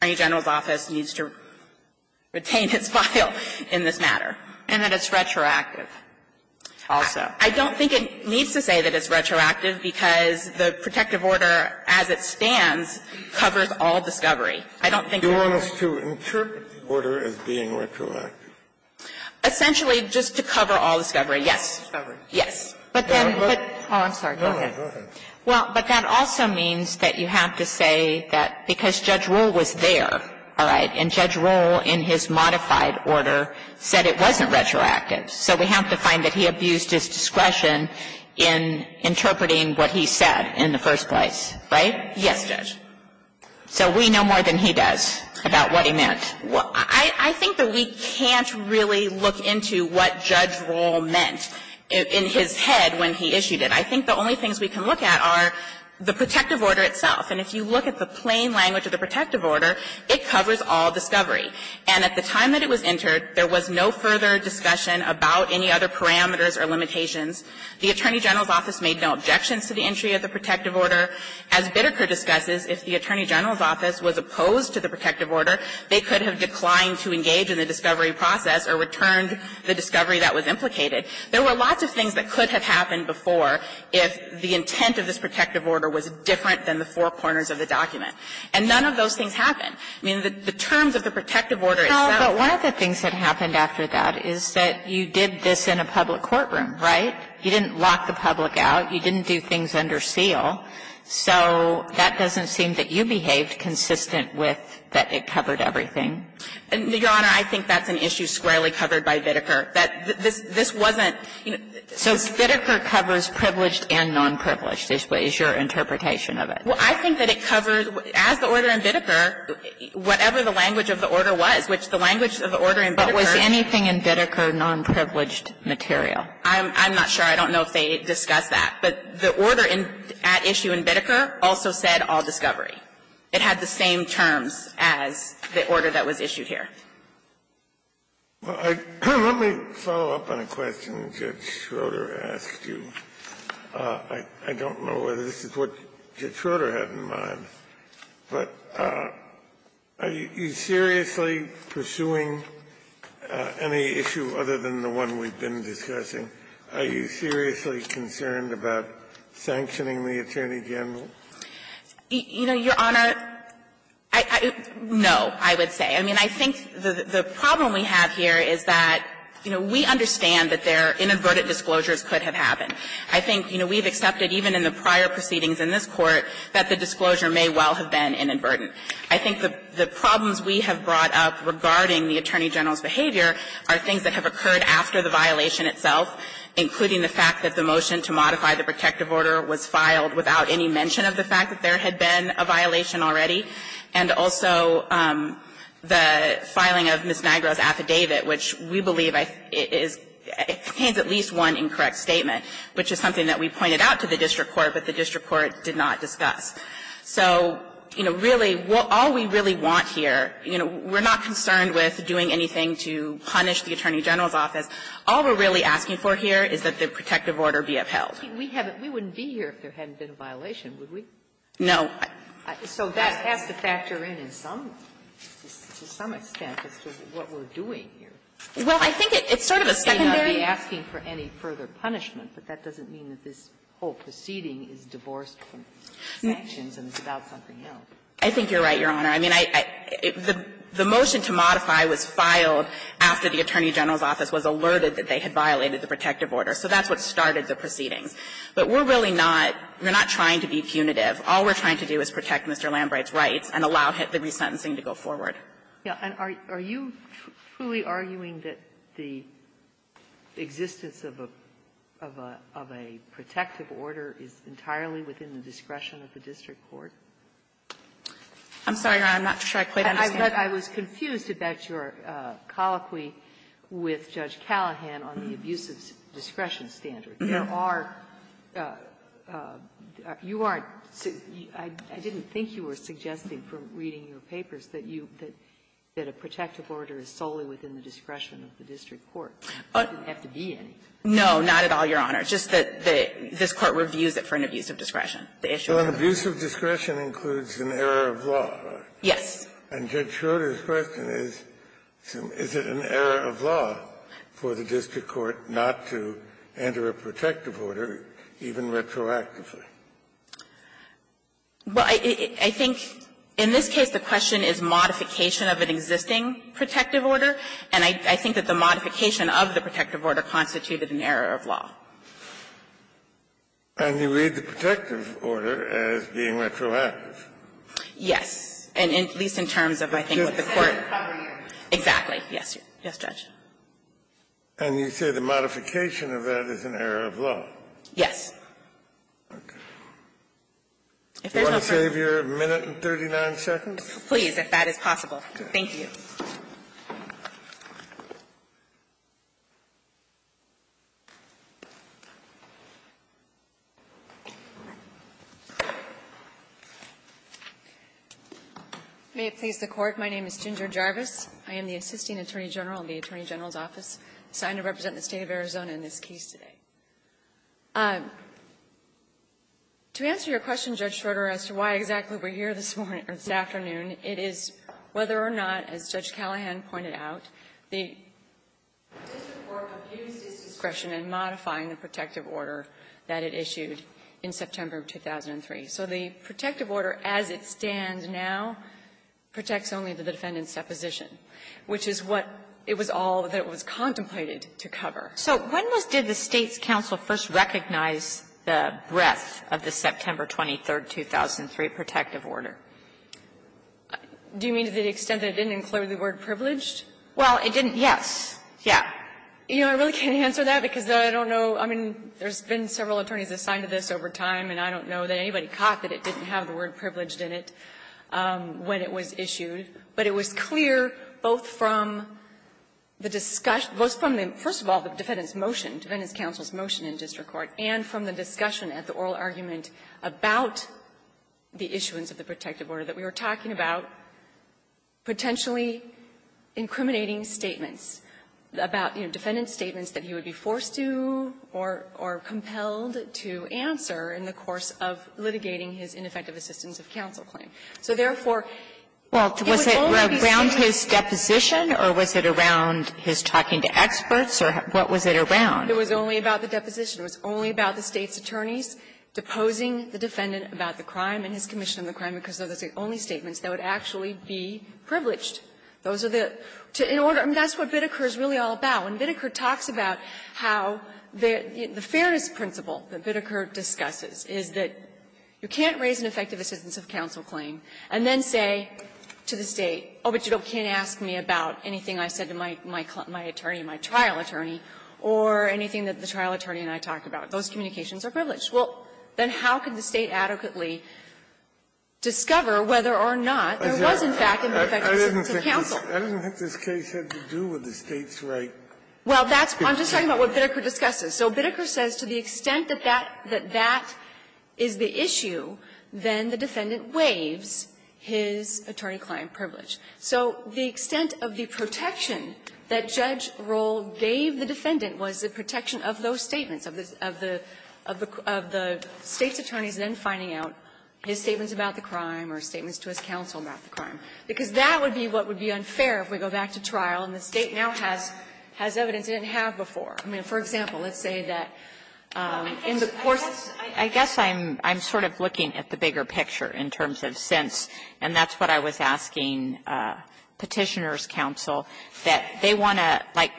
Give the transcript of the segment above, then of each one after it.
v. Attorney General's Office needs to retain its file in this matter and that it's retroactive also. I don't think it needs to say that it's retroactive because the protective order as it stands covers all discovery. I don't think it's retroactive. Scalia, you want us to interpret the order as being retroactive? Essentially, just to cover all discovery, yes. Oh, I'm sorry. Go ahead. Well, but that also means that you have to say that because Judge Rohl was there, all right, and Judge Rohl, in his modified order, said it wasn't retroactive, so we have to find that he abused his discretion in interpreting what he said in the first place, right? Yes, Judge. So we know more than he does about what he meant. I think that we can't really look into what Judge Rohl meant in his head when he issued it. I think the only things we can look at are the protective order itself. And if you look at the plain language of the protective order, it covers all discovery. And at the time that it was entered, there was no further discussion about any other parameters or limitations. The Attorney General's Office made no objections to the entry of the protective order. As Biddeker discusses, if the Attorney General's Office was opposed to the protective order, it would have declined to engage in the discovery process or returned the discovery that was implicated. There were lots of things that could have happened before if the intent of this protective order was different than the four corners of the document. And none of those things happened. I mean, the terms of the protective order itself were the same. But one of the things that happened after that is that you did this in a public courtroom, right? You didn't lock the public out. You didn't do things under seal. So that doesn't seem that you behaved consistent with that it covered everything. And, Your Honor, I think that's an issue squarely covered by Biddeker, that this wasn't the case. So Biddeker covers privileged and nonprivileged is your interpretation of it. Well, I think that it covers, as the order in Biddeker, whatever the language of the order was, which the language of the order in Biddeker. But was anything in Biddeker nonprivileged material? I'm not sure. I don't know if they discussed that. But the order at issue in Biddeker also said all discovery. It had the same terms as the order that was issued here. Kennedy. Let me follow up on a question Judge Schroeder asked you. I don't know whether this is what Judge Schroeder had in mind, but are you seriously pursuing any issue other than the one we've been discussing? Are you seriously concerned about sanctioning the Attorney General? You know, Your Honor, no, I would say. I mean, I think the problem we have here is that, you know, we understand that there are inadvertent disclosures could have happened. I think, you know, we've accepted even in the prior proceedings in this Court that the disclosure may well have been inadvertent. I think the problems we have brought up regarding the Attorney General's behavior are things that have occurred after the violation itself, including the fact that the motion to modify the protective order was filed without any mention of the fact that there had been a violation already, and also the filing of Ms. Nigro's affidavit, which we believe is at least one incorrect statement, which is something that we pointed out to the district court, but the district court did not discuss. So, you know, really, all we really want here, you know, we're not concerned with doing anything to punish the Attorney General's office. All we're really asking for here is that the protective order be upheld. Sotomayor, we wouldn't be here if there hadn't been a violation, would we? No. So that has to factor in in some, to some extent, as to what we're doing here. Well, I think it's sort of a secondary asking for any further punishment, but that doesn't mean that this whole proceeding is divorced from sanctions and it's about something else. I think you're right, Your Honor. I mean, the motion to modify was filed after the Attorney General's office was alerted that they had violated the protective order. So that's what started the proceedings. But we're really not, we're not trying to be punitive. All we're trying to do is protect Mr. Lambrey's rights and allow the resentencing to go forward. Ginsburg, are you truly arguing that the existence of a, of a, of a protective order is entirely within the discretion of the district court? I'm sorry, Your Honor. I'm not sure I quite understand. I was confused about your colloquy with Judge Callahan on the abuse of discretion standard. There are you are, I didn't think you were suggesting from reading your papers that you, that a protective order is solely within the discretion of the district court. It doesn't have to be any. No, not at all, Your Honor. Just that the, this Court reviews it for an abuse of discretion. The issue is that. So an abuse of discretion includes an error of law, right? Yes. And Judge Schroder's question is, is it an error of law for the district court not to enter a protective order, even retroactively? Well, I think in this case the question is modification of an existing protective order, and I think that the modification of the protective order constituted an error of law. And you read the protective order as being retroactive? Yes. And at least in terms of I think what the Court. Just to cover you. Exactly, yes, yes, Judge. And you say the modification of that is an error of law? Yes. Okay. If there's no further. Do you want to save your minute and 39 seconds? Please, if that is possible. Thank you. May it please the Court. My name is Ginger Jarvis. I am the Assisting Attorney General in the Attorney General's Office, assigned to represent the State of Arizona in this case today. To answer your question, Judge Schroder, as to why exactly we're here this morning and this afternoon, it is whether or not, as Judge Callahan pointed out, the district court abused its discretion in modifying the protective order that it issued in September of 2003. So the protective order as it stands now protects only the defendant's supposition, which is what it was all that was contemplated to cover. So when was did the State's counsel first recognize the breadth of the September 23rd, 2003 protective order? Do you mean to the extent that it didn't include the word privileged? Well, it didn't, yes. Yeah. You know, I really can't answer that because I don't know. I mean, there's been several attorneys assigned to this over time, and I don't know that anybody caught that it didn't have the word privileged in it when it was issued. But it was clear both from the discussion, both from the, first of all, the defendant's motion, defendant's counsel's motion in district court, and from the discussion at the oral argument about the issuance of the protective order that we were talking about, potentially incriminating statements about, you know, defendant's statements that he would be forced to or compelled to answer in the course of litigating his ineffective assistance of counsel claim. So therefore, it was only the State's counsel's motion that he was forced to answer. Well, was it around his deposition, or was it around his talking to experts, or what was it around? It was only about the deposition. It was only about the State's attorneys deposing the defendant about the crime and his commission of the crime, because those are the only statements that would actually be privileged. Those are the two in order. I mean, that's what Biddeker is really all about. When Biddeker talks about how the fairness principle that Biddeker discusses is that you can't raise an effective assistance of counsel claim and then say to the State, oh, but you can't ask me about anything I said to my attorney, my trial attorney, or anything that the trial attorney and I talked about. Those communications are privileged. Well, then how could the State adequately discover whether or not there was, in fact, an effective assistance of counsel? Scalia I didn't think this case had to do with the State's right. Well, that's why I'm just talking about what Biddeker discusses. So Biddeker says to the extent that that is the issue, then the defendant waives his attorney-client privilege. So the extent of the protection that Judge Rohl gave the defendant was the protection of those statements, of the State's attorneys then finding out his statements about the crime or statements to his counsel about the crime. Because that would be what would be unfair if we go back to trial and the State now has evidence it didn't have before. I mean, for example, let's say that in the course of the case that Biddeker And that's what I was asking Petitioner's counsel, that they want to, like,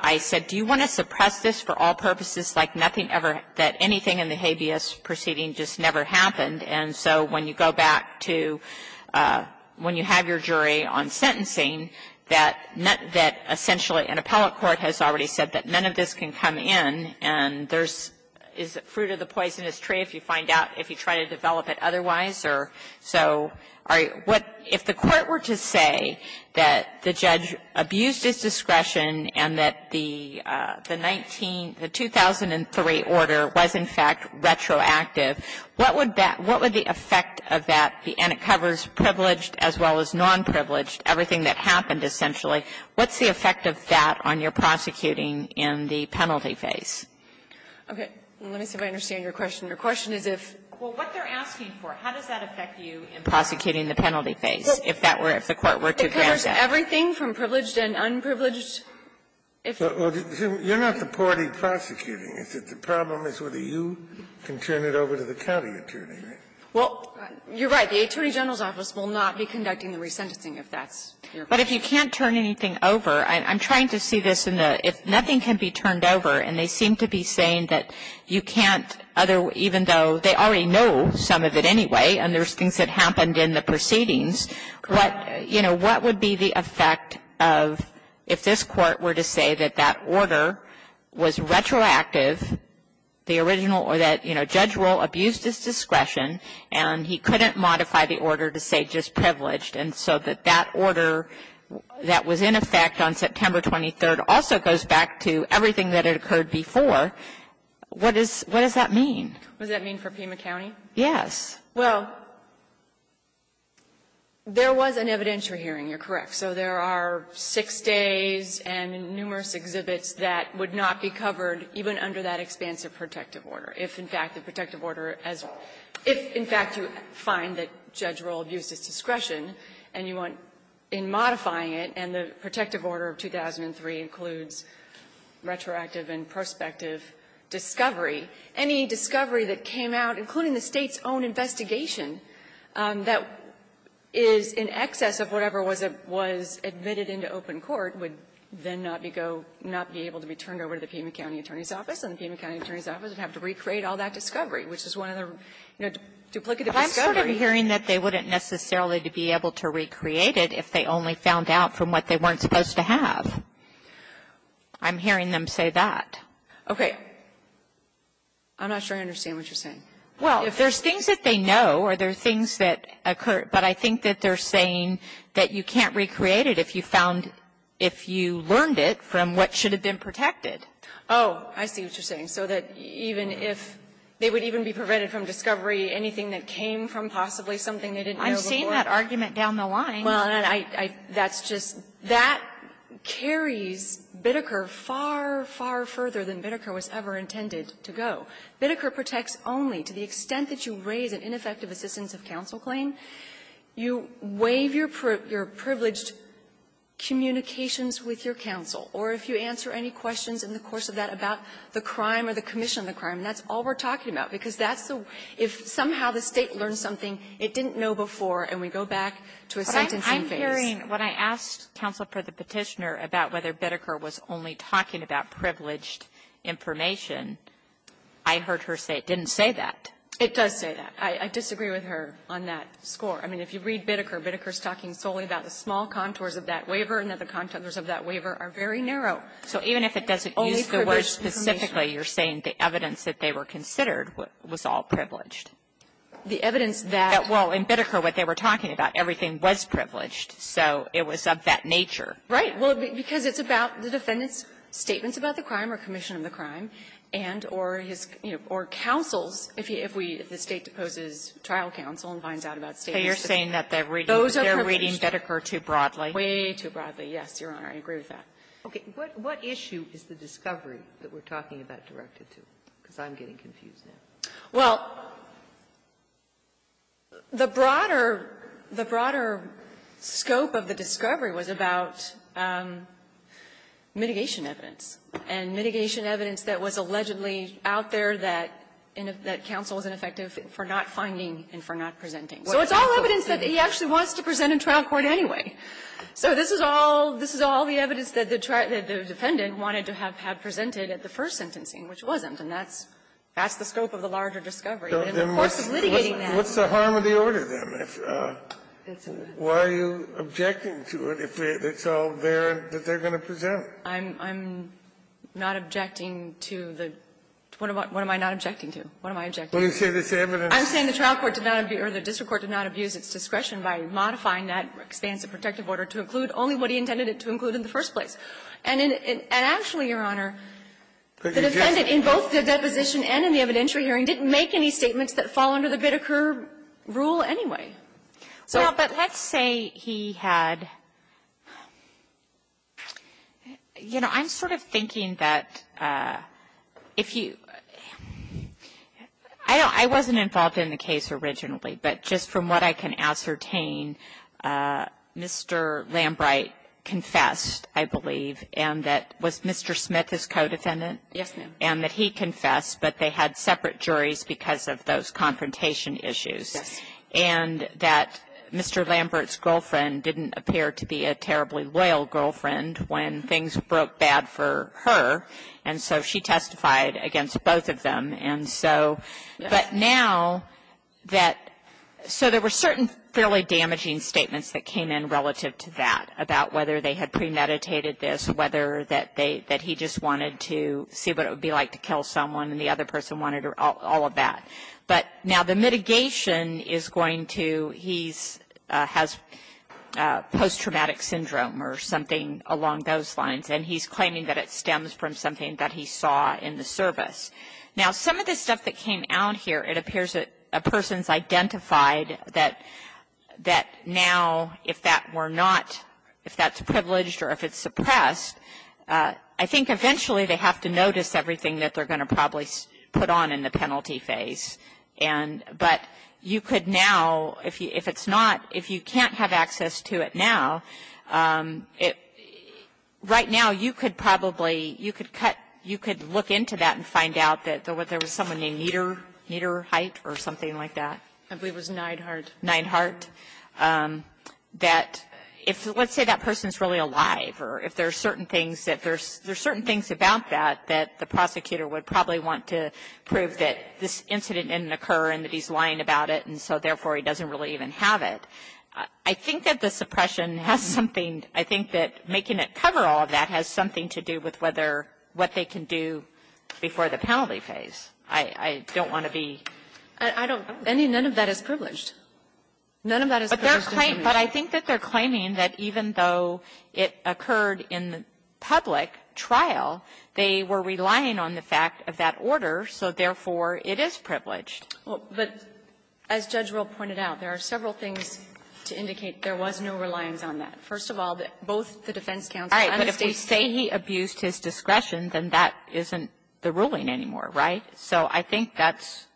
I said, do you want to suppress this for all purposes, like nothing ever, that anything in the habeas proceeding just never happened? And so when you go back to when you have your jury on sentencing, that essentially an appellate court has already said that none of this can come in, and there's is fruit of the poisonous tree if you find out, if you try to develop it otherwise. So if the court were to say that the judge abused his discretion and that the 19 the 2003 order was, in fact, retroactive, what would that, what would the effect of that, and it covers privileged as well as non-privileged, everything that happened, essentially, what's the effect of that on your prosecuting in the penalty phase? Okay. Let me see if I understand your question. Your question is if, well, what they're asking for, how does that affect you in prosecuting the penalty phase, if that were, if the court were to grant that? It covers everything from privileged and unprivileged. If you're not the party prosecuting, the problem is whether you can turn it over to the county attorney, right? Well, you're right. The attorney general's office will not be conducting the resentencing if that's your point. But if you can't turn anything over, I'm trying to see this in the, if nothing can be turned over, and they seem to be saying that you can't other, even though they already know some of it anyway, and there's things that happened in the proceedings, what, you know, what would be the effect of if this court were to say that that order was retroactive, the original, or that, you know, Judge Roll abused his discretion, and he couldn't modify the order to say just privileged, and so that order that was in effect on September 23rd also goes back to everything that had occurred before, what is, what does that mean? What does that mean for Pima County? Yes. Well, there was an evidentiary hearing. You're correct. So there are six days and numerous exhibits that would not be covered, even under that expansive protective order, if, in fact, the protective order as, if, in fact, you find that Judge Roll abused his discretion, and you want, in modifying it, and the protective order of 2003 includes retroactive and prospective discovery, any discovery that came out, including the State's own investigation, that is in excess of whatever was admitted into open court would then not be go, not be able to be turned over to the Pima County Attorney's Office, and the Pima County Attorney's Office would have to recreate all that discovery, which is one of the, you know, duplicative discovery. But I'm sort of hearing that they wouldn't necessarily be able to recreate it if they only found out from what they weren't supposed to have. I'm hearing them say that. Okay. I'm not sure I understand what you're saying. Well, there's things that they know, or there's things that occur, but I think that they're saying that you can't recreate it if you found, if you learned it from what should have been protected. Oh, I see what you're saying. So that even if they would even be prevented from discovery, anything that came from possibly something they didn't know before. I've seen that argument down the line. Well, and I, I, that's just, that carries Biddecker far, far further than Biddecker was ever intended to go. Biddecker protects only, to the extent that you raise an ineffective assistance of counsel claim, you waive your privileged communications with your counsel, or if you answer any questions in the course of that about the crime or the commission of the crime, and that's all we're talking about, because that's the, if somehow the State learned something it didn't know before, and we go back to a sentencing phase. But I'm hearing, when I asked counsel for the Petitioner about whether Biddecker was only talking about privileged information, I heard her say it didn't say that. It does say that. I, I disagree with her on that score. I mean, if you read Biddecker, Biddecker's talking solely about the small contours of that waiver and that the contours of that waiver are very narrow. Kagan. So even if it doesn't use the words specifically, you're saying the evidence that they were considered was all privileged. The evidence that — Well, in Biddecker, what they were talking about, everything was privileged. So it was of that nature. Right. Well, because it's about the defendant's statements about the crime or commission of the crime and or his, you know, or counsel's, if he, if we, if the State deposes trial counsel and finds out about state issues. So you're saying that they're reading Biddecker too broadly? Way too broadly, yes, Your Honor. I agree with that. Okay. What issue is the discovery that we're talking about directed to? Because I'm getting confused now. Well, the broader, the broader scope of the discovery was about mitigation evidence, and mitigation evidence that was allegedly out there that, that counsel wasn't effective for not finding and for not presenting. So it's all evidence that he actually wants to present in trial court anyway. So this is all, this is all the evidence that the defendant wanted to have had presented at the first sentencing, which wasn't. And that's, that's the scope of the larger discovery. But in the course of litigating that — What's the harm of the order, then? Why are you objecting to it if it's all there that they're going to present? I'm, I'm not objecting to the — what am I not objecting to? What am I objecting to? I'm saying the trial court did not abuse, or the district court did not abuse its discretion by modifying that expense of protective order to include only what he intended it to include in the first place. And in, and actually, Your Honor, the defendant in both the deposition and in the evidentiary hearing didn't make any statements that fall under the Biddeker rule anyway. So — Well, but let's say he had — you know, I'm sort of thinking that if you — I mean, I wasn't involved in the case originally, but just from what I can ascertain, Mr. Lambright confessed, I believe, and that — was Mr. Smith his co-defendant? Yes, ma'am. And that he confessed, but they had separate juries because of those confrontation issues. Yes. And that Mr. Lambert's girlfriend didn't appear to be a terribly loyal girlfriend when things broke bad for her, and so she testified against both of them. And so, but now that — so there were certain fairly damaging statements that came in relative to that about whether they had premeditated this, whether that they — that he just wanted to see what it would be like to kill someone, and the other person wanted all of that. But now the mitigation is going to — he's — has post-traumatic syndrome or something along those lines, and he's claiming that it stems from something that he saw in the service. Now, some of the stuff that came out here, it appears that a person's identified that — that now, if that were not — if that's privileged or if it's suppressed, I think eventually they have to notice everything that they're going to probably put on in the penalty phase, and — but you could now, if it's not — if you can't have access to it now, it — right now, you could probably — you could cut — you could look into that and find out that there was someone named Nieder — Niederheit or something like that. I believe it was Neidhardt. Neidhardt, that if — let's say that person's really alive, or if there are certain things that there's — there's certain things about that that the prosecutor would probably want to prove that this incident didn't occur and that he's lying about it, and so therefore he doesn't really even have it. I think that the suppression has something — I think that making it cover all of that has something to do with whether — what they can do before the penalty phase. I don't want to be — I don't — I mean, none of that is privileged. None of that is privileged. But they're — but I think that they're claiming that even though it occurred in the public trial, they were relying on the fact of that order, so therefore it is privileged. Well, but as Judge Rohl pointed out, there are several things to indicate there was no reliance on that. First of all, both the defense counsel and the State — All right. But if we say he abused his discretion, then that isn't the ruling anymore, right? So I think that's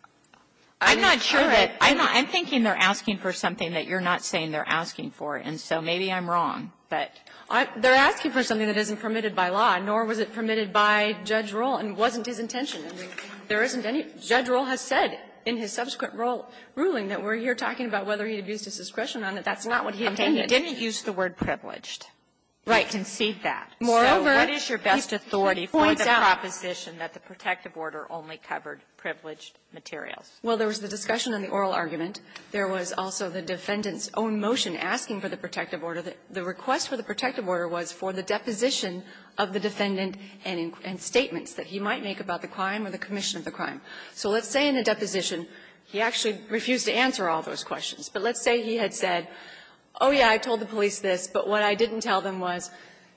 — I'm not sure that — I'm thinking they're asking for something that you're not saying they're asking for, and so maybe I'm wrong, but — They're asking for something that isn't permitted by law, nor was it permitted by Judge Rohl and wasn't his intention. And there isn't any — Judge Rohl has said in his subsequent ruling that we're here talking about whether he abused his discretion on it. That's not what he intended. He didn't use the word privileged. Concede that. Moreover, he points out — So what is your best authority for the proposition that the protective order only covered privileged materials? Well, there was the discussion on the oral argument. There was also the defendant's own motion asking for the protective order. The request for the protective order was for the deposition of the defendant and statements that he might make about the crime or the commission of the crime. So let's say in a deposition he actually refused to answer all those questions. But let's say he had said, oh, yeah, I told the police this, but what I didn't tell them was,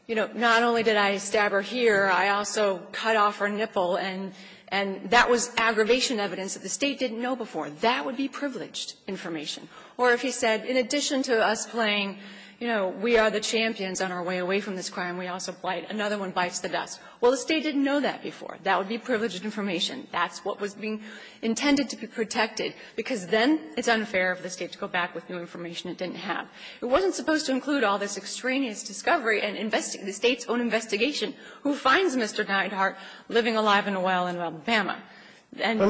you know, not only did I stab her here, I also cut off her nipple, and that was aggravation evidence that the State didn't know before. That would be privileged information. Or if he said, in addition to us playing, you know, we are the champions on our way away from this crime, we also play, another one bites the dust. Well, the State didn't know that before. That would be privileged information. That's what was being intended to be protected, because then it's unfair for the State to go back with new information it didn't have. It wasn't supposed to include all this extraneous discovery and investigating the State's own investigation. Who finds Mr. Neidhart living alive in a well in Alabama? And you are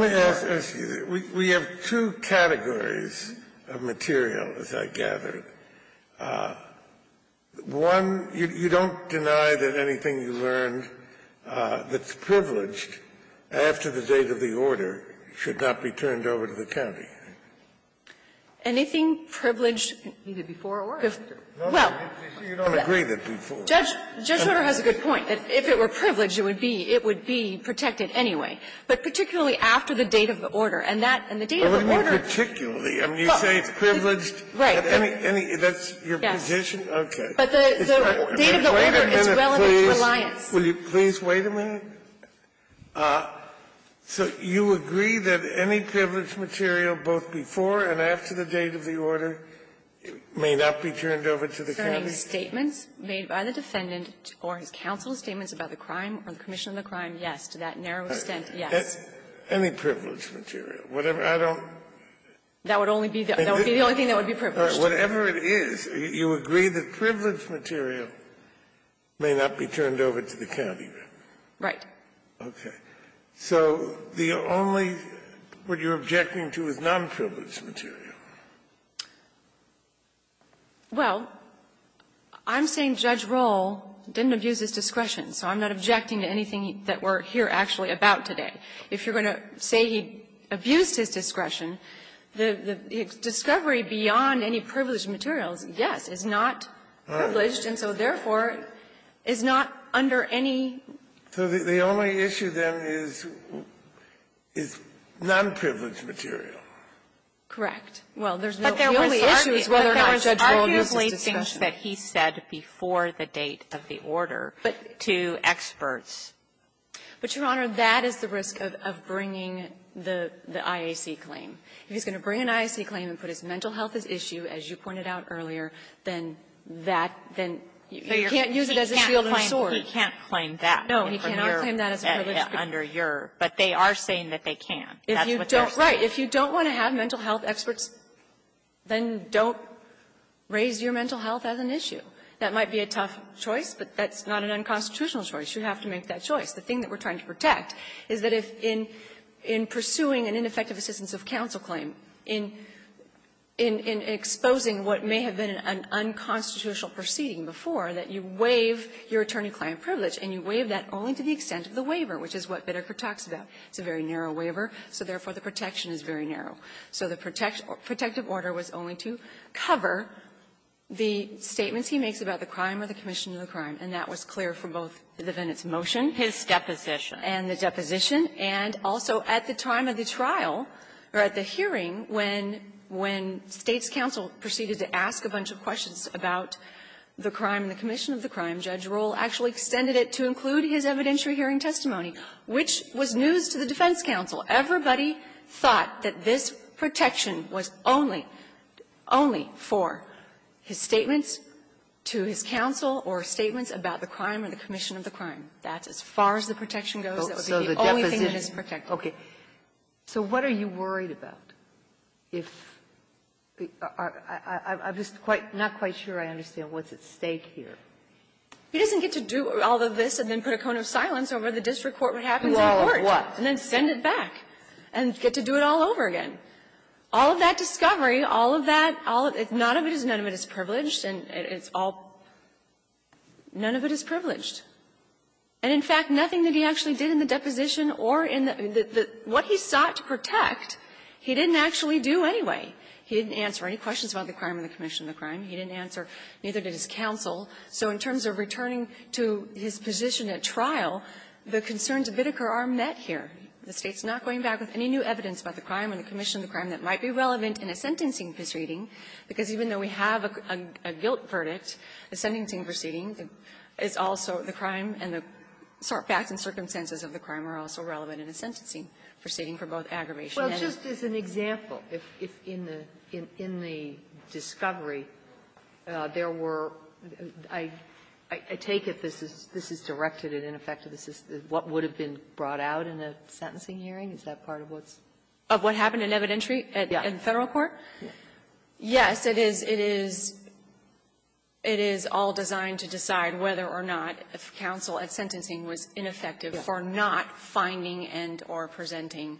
— One, you don't deny that anything you learned that's privileged after the date of the order should not be turned over to the county. Anything privileged either before or after. Well, Judge Rutter has a good point, that if it were privileged, it would be — it would be protected anyway, but particularly after the date of the order. And that — and the date of the order — But what do you mean, particularly? I mean, you say it's privileged at any — that's your position? Yes. Okay. But the — the date of the order is relevant to reliance. Will you please wait a minute? So you agree that any privileged material, both before and after the date of the order, may not be turned over to the county? Sir, any statements made by the defendant or his counsel's statements about the crime or the commission of the crime, yes, to that narrow extent, yes. Any privileged material. Whatever — I don't — That would only be the — that would be the only thing that would be privileged. Whatever it is, you agree that privileged material may not be turned over to the county? Right. Okay. So the only — what you're objecting to is non-privileged material. Well, I'm saying Judge Rohl didn't abuse his discretion, so I'm not objecting to anything that we're here actually about today. If you're going to say he abused his discretion, the discovery beyond any privileged materials, yes, is not privileged, and so therefore is not under any — So the only issue, then, is — is non-privileged material. Correct. Well, there's no — But there was — The only issue is whether or not Judge Rohl used his discretion. But there was arguably things that he said before the date of the order to experts. But, Your Honor, that is the risk of bringing the IAC claim. If he's going to bring an IAC claim and put his mental health at issue, as you pointed out earlier, then that — then you can't use it as a shield and a sword. He can't claim that. No. He cannot claim that as a privileged material. Under your — but they are saying that they can. That's what they're saying. Right. If you don't want to have mental health experts, then don't raise your mental health as an issue. That might be a tough choice, but that's not an unconstitutional choice. You have to make that choice. The thing that we're trying to protect is that if in — in pursuing an ineffective assistance of counsel claim, in — in exposing what may have been an unconstitutional proceeding before, that you waive your attorney-client privilege, and you waive that only to the extent of the waiver, which is what Bitterker talks about. It's a very narrow waiver, so therefore, the protection is very narrow. So the protective order was only to cover the statements he makes about the crime or the commission of the crime, and that was clear for both the Vennett's motion. His deposition. And the deposition. And also, at the time of the trial, or at the hearing, when — when State's counsel proceeded to ask a bunch of questions about the crime and the commission of the crime, Judge Rohl actually extended it to include his evidentiary hearing testimony, which was news to the defense counsel. Everybody thought that this protection was only — only for his statements to his counsel or statements about the crime or the commission of the crime. That's as far as the protection goes. That would be the only thing that is protected. Okay. So what are you worried about if — I'm just quite — not quite sure I understand what's at stake here. He doesn't get to do all of this and then put a cone of silence over the district court what happens in court. Do all of what? And then send it back and get to do it all over again. All of that discovery, all of that, all of — none of it is — none of it is privileged. And it's all — none of it is privileged. And, in fact, nothing that he actually did in the deposition or in the — what he sought to protect, he didn't actually do anyway. He didn't answer any questions about the crime or the commission of the crime. He didn't answer — neither did his counsel. So in terms of returning to his position at trial, the concerns of Bittker are met here. The State's not going back with any new evidence about the crime or the commission of the crime that might be relevant in a sentencing proceeding, because even though we have a guilt verdict, a sentencing proceeding is also the crime and the facts and circumstances of the crime are also relevant in a sentencing proceeding for both aggravation and — Sotomayor, just as an example, if in the — in the discovery, there were — I take it this is — this is directed and, in effect, this is what would have been brought out in a sentencing hearing? Is that part of what's — Of what happened in evidentiary at the Federal court? Yes, it is. It is — it is all designed to decide whether or not if counsel at sentencing was ineffective for not finding and or presenting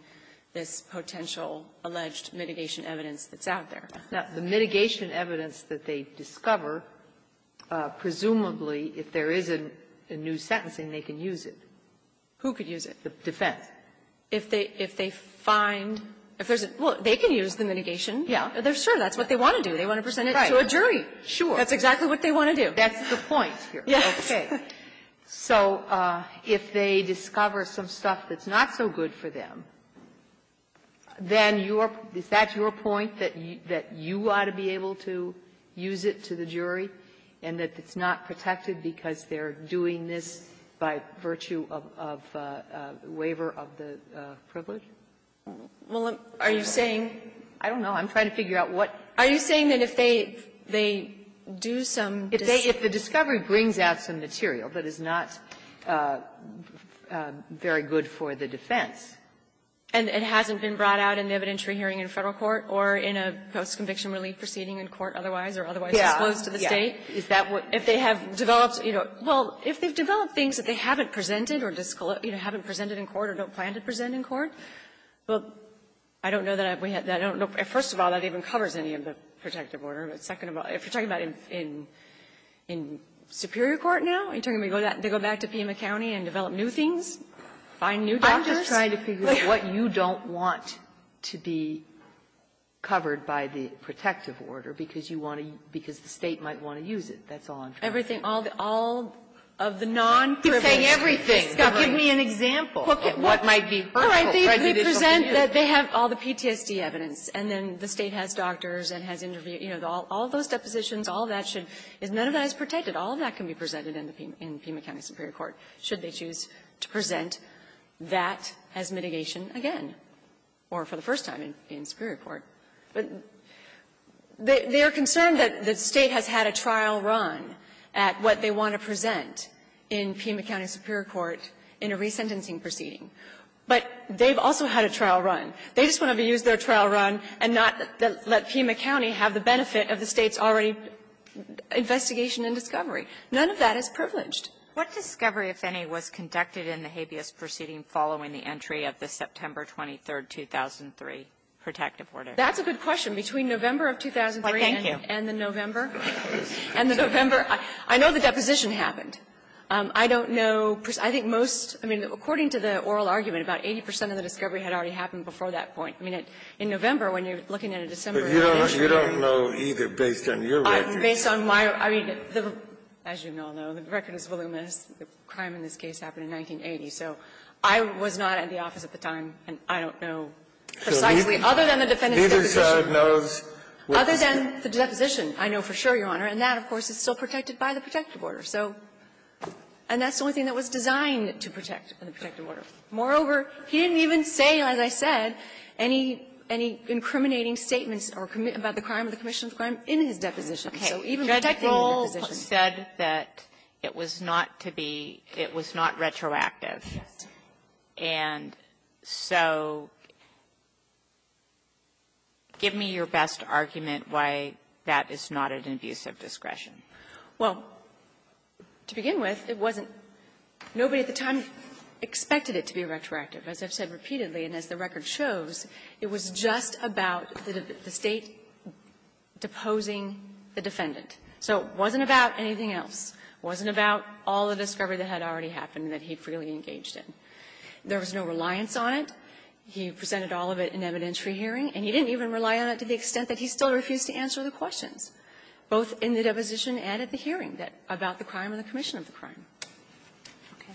this potential alleged mitigation evidence that's out there. Now, the mitigation evidence that they discover, presumably, if there isn't a new sentencing, they can use it. Who could use it? The defense. If they — if they find — if there's a — well, they can use the mitigation. Yeah. They're sure that's what they want to do. They want to present it to a jury. Sure. That's exactly what they want to do. That's the point here. Yes. Okay. So if they discover some stuff that's not so good for them, then your — is that your point, that you ought to be able to use it to the jury, and that it's not protected because they're doing this by virtue of waiver of the privilege? Well, are you saying — I don't know. I'm trying to figure out what — Are you saying that if they — they do some — If they — if the discovery brings out some material that is not very good for the defense — And it hasn't been brought out in the evidentiary hearing in Federal court or in a post-conviction relief proceeding in court otherwise, or otherwise disclosed to the State? Yeah. Is that what — If they have developed, you know — well, if they've developed things that they haven't presented or disclosed — you know, haven't presented in court or don't plan to present in court, well, I don't know that we have — I don't know. First of all, that even covers any of the protective order. But second of all, if you're talking about in — in superior court now, are you talking about they go back to Pima County and develop new things, find new doctors? I'm just trying to figure out what you don't want to be covered by the protective order because you want to — because the State might want to use it. That's all I'm trying to figure out. Everything — all of the non-privileged — You're saying everything. Give me an example of what might be hurtful, prejudicial to you. All right. They present that they have all the PTSD evidence, and then the State has doctors and has interviewed — you know, all of those depositions, all of that should — none of that is protected. All of that can be presented in the Pima County superior court, should they choose to present that as mitigation again, or for the first time in superior court. But they are concerned that the State has had a trial run at what they want to present in Pima County superior court in a resentencing proceeding. But they've also had a trial run. They just want to use their trial run and not let Pima County have the benefit of the State's already investigation and discovery. None of that is privileged. What discovery, if any, was conducted in the habeas proceeding following the entry of the September 23, 2003 protective order? That's a good question. Between November of 2003 and the November. And the November — I know the deposition happened. I don't know. I think most — I mean, according to the oral argument, about 80 percent of the discovery had already happened before that point. I mean, in November, when you're looking at a December entry. But you don't know either, based on your records. Based on my — I mean, as you all know, the record is voluminous. The crime in this case happened in 1980. So I was not at the office at the time, and I don't know precisely. Other than the defendant's deposition. Neither side knows what was there. Other than the deposition, I know for sure, Your Honor. And that, of course, is still protected by the protective order. So — and that's the only thing that was designed to protect the protective order. Moreover, he didn't even say, as I said, any — any incriminating statements about the crime or the commission's crime in his deposition. So even protecting the deposition. Okay. Judge Rohl said that it was not to be — it was not retroactive. Yes. And so give me your best argument why that is not an abuse of discretion. Well, to begin with, it wasn't — nobody at the time expected it to be retroactive. As I've said repeatedly, and as the record shows, it was just about the State deposing the defendant. So it wasn't about anything else. It wasn't about all the discovery that had already happened that he freely engaged in. There was no reliance on it. He presented all of it in evidentiary hearing. And he didn't even rely on it to the extent that he still refused to answer the questions, both in the deposition and at the hearing, that — about the crime or the commission of the crime. Okay.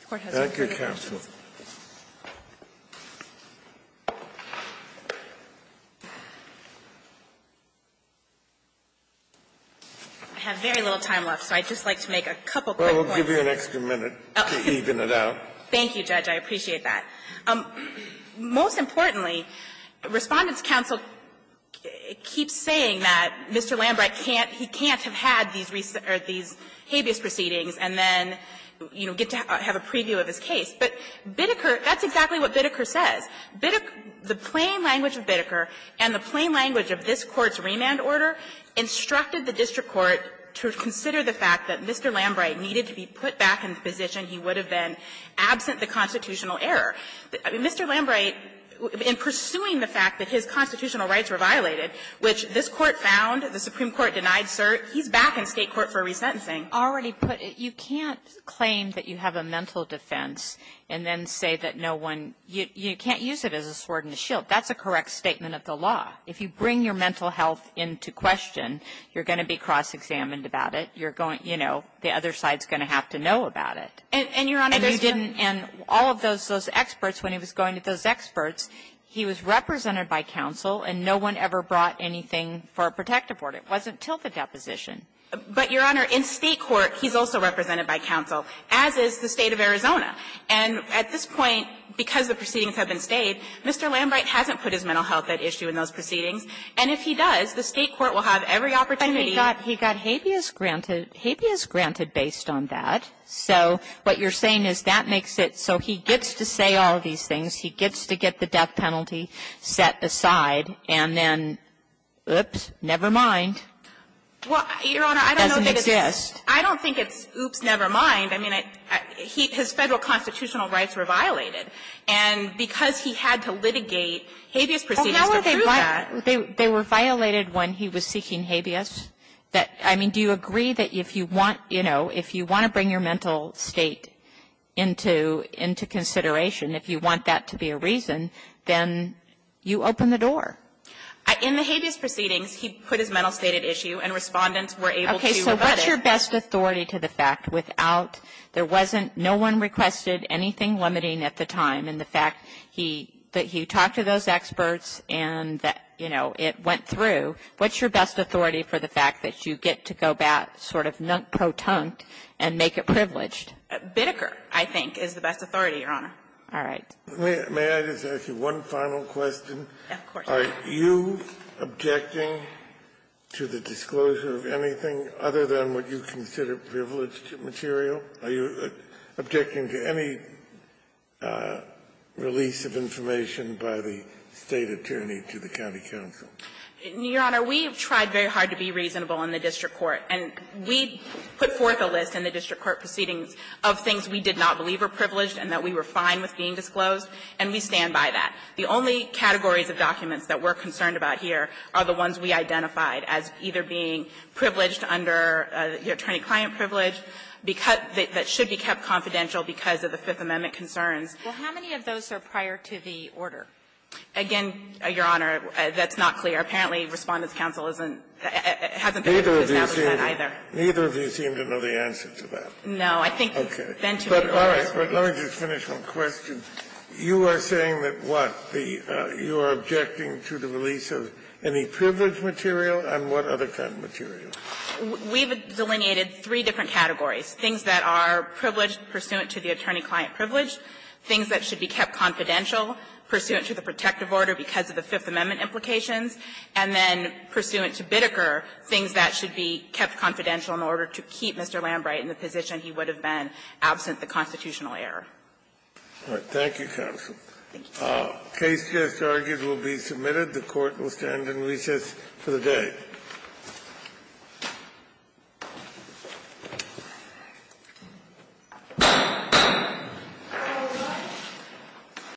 The Court has no further questions. I have very little time left, so I'd just like to make a couple quick points. Well, we'll give you an extra minute to even it out. Thank you, Judge. I appreciate that. Most importantly, Respondent's counsel keeps saying that Mr. Lambrecht can't — he can't have had these — or these habeas proceedings and then, you know, get to have a preview of his case. But Bitteker — that's exactly what Bitteker says. Bitteker — the plain language of Bitteker and the plain language of this Court's remand order instructed the district court to consider the fact that Mr. Lambrecht needed to be put back in the position he would have been absent the constitutional error. Mr. Lambrecht, in pursuing the fact that his constitutional rights were violated, which this Court found, the Supreme Court denied cert, he's back in State court for resentencing. You can't claim that you have a mental defense and then say that no one — you can't use it as a sword and a shield. That's a correct statement of the law. If you bring your mental health into question, you're going to be cross-examined about it. You're going — you know, the other side's going to have to know about it. And you didn't — and all of those experts, when he was going to those experts, he was represented by counsel, and no one ever brought anything for a protective order. It wasn't until the deposition. But, Your Honor, in State court, he's also represented by counsel, as is the State of Arizona. And at this point, because the proceedings have been stayed, Mr. Lambrecht hasn't put his mental health at issue in those proceedings. And if he does, the State court will have every opportunity to do so. And he got habeas granted — habeas granted based on that. So what you're saying is that makes it so he gets to say all these things, he gets to get the death penalty set aside, and then, oops, never mind. Well, Your Honor, I don't know that it's — It doesn't exist. I don't think it's oops, never mind. I mean, his Federal constitutional rights were violated. And because he had to litigate habeas proceedings to prove that — Well, how are they — they were violated when he was seeking habeas? I mean, do you agree that if you want — you know, if you want to bring your mental state into consideration, if you want that to be a reason, then you open the door? In the habeas proceedings, he put his mental state at issue, and Respondents were able to rebut it. Okay. So what's your best authority to the fact without — there wasn't — no one requested anything limiting at the time, and the fact he — that he talked to those experts and that, you know, it went through. What's your best authority for the fact that you get to go back, sort of pro-tunct, and make it privileged? Biddecker, I think, is the best authority, Your Honor. All right. May I just ask you one final question? Of course. Are you objecting to the disclosure of anything other than what you consider privileged material? Are you objecting to any release of information by the State attorney to the county counsel? Your Honor, we have tried very hard to be reasonable in the district court. And we put forth a list in the district court proceedings of things we did not believe were privileged and that we were fine with being disclosed, and we stand by that. The only categories of documents that we're concerned about here are the ones we identified as either being privileged under the attorney-client privilege, that should be kept confidential because of the Fifth Amendment concerns. Well, how many of those are prior to the order? Again, Your Honor, that's not clear. Apparently, Respondent's counsel isn't — hasn't been able to establish that either. Neither of you seem to know the answer to that. No. I think then to be honest, we don't. But all right, let me just finish one question. You are saying that, what, the — you are objecting to the release of any privileged material, and what other kind of material? We've delineated three different categories, things that are privileged pursuant to the attorney-client privilege, things that should be kept confidential pursuant to the protective order because of the Fifth Amendment implications, and then pursuant to Bittker, things that should be kept confidential in order to keep Mr. Lambright in the position he would have been absent the constitutional error. All right. Thank you, counsel. Thank you, Your Honor. The case just argued will be submitted. The Court will stand in recess for the day.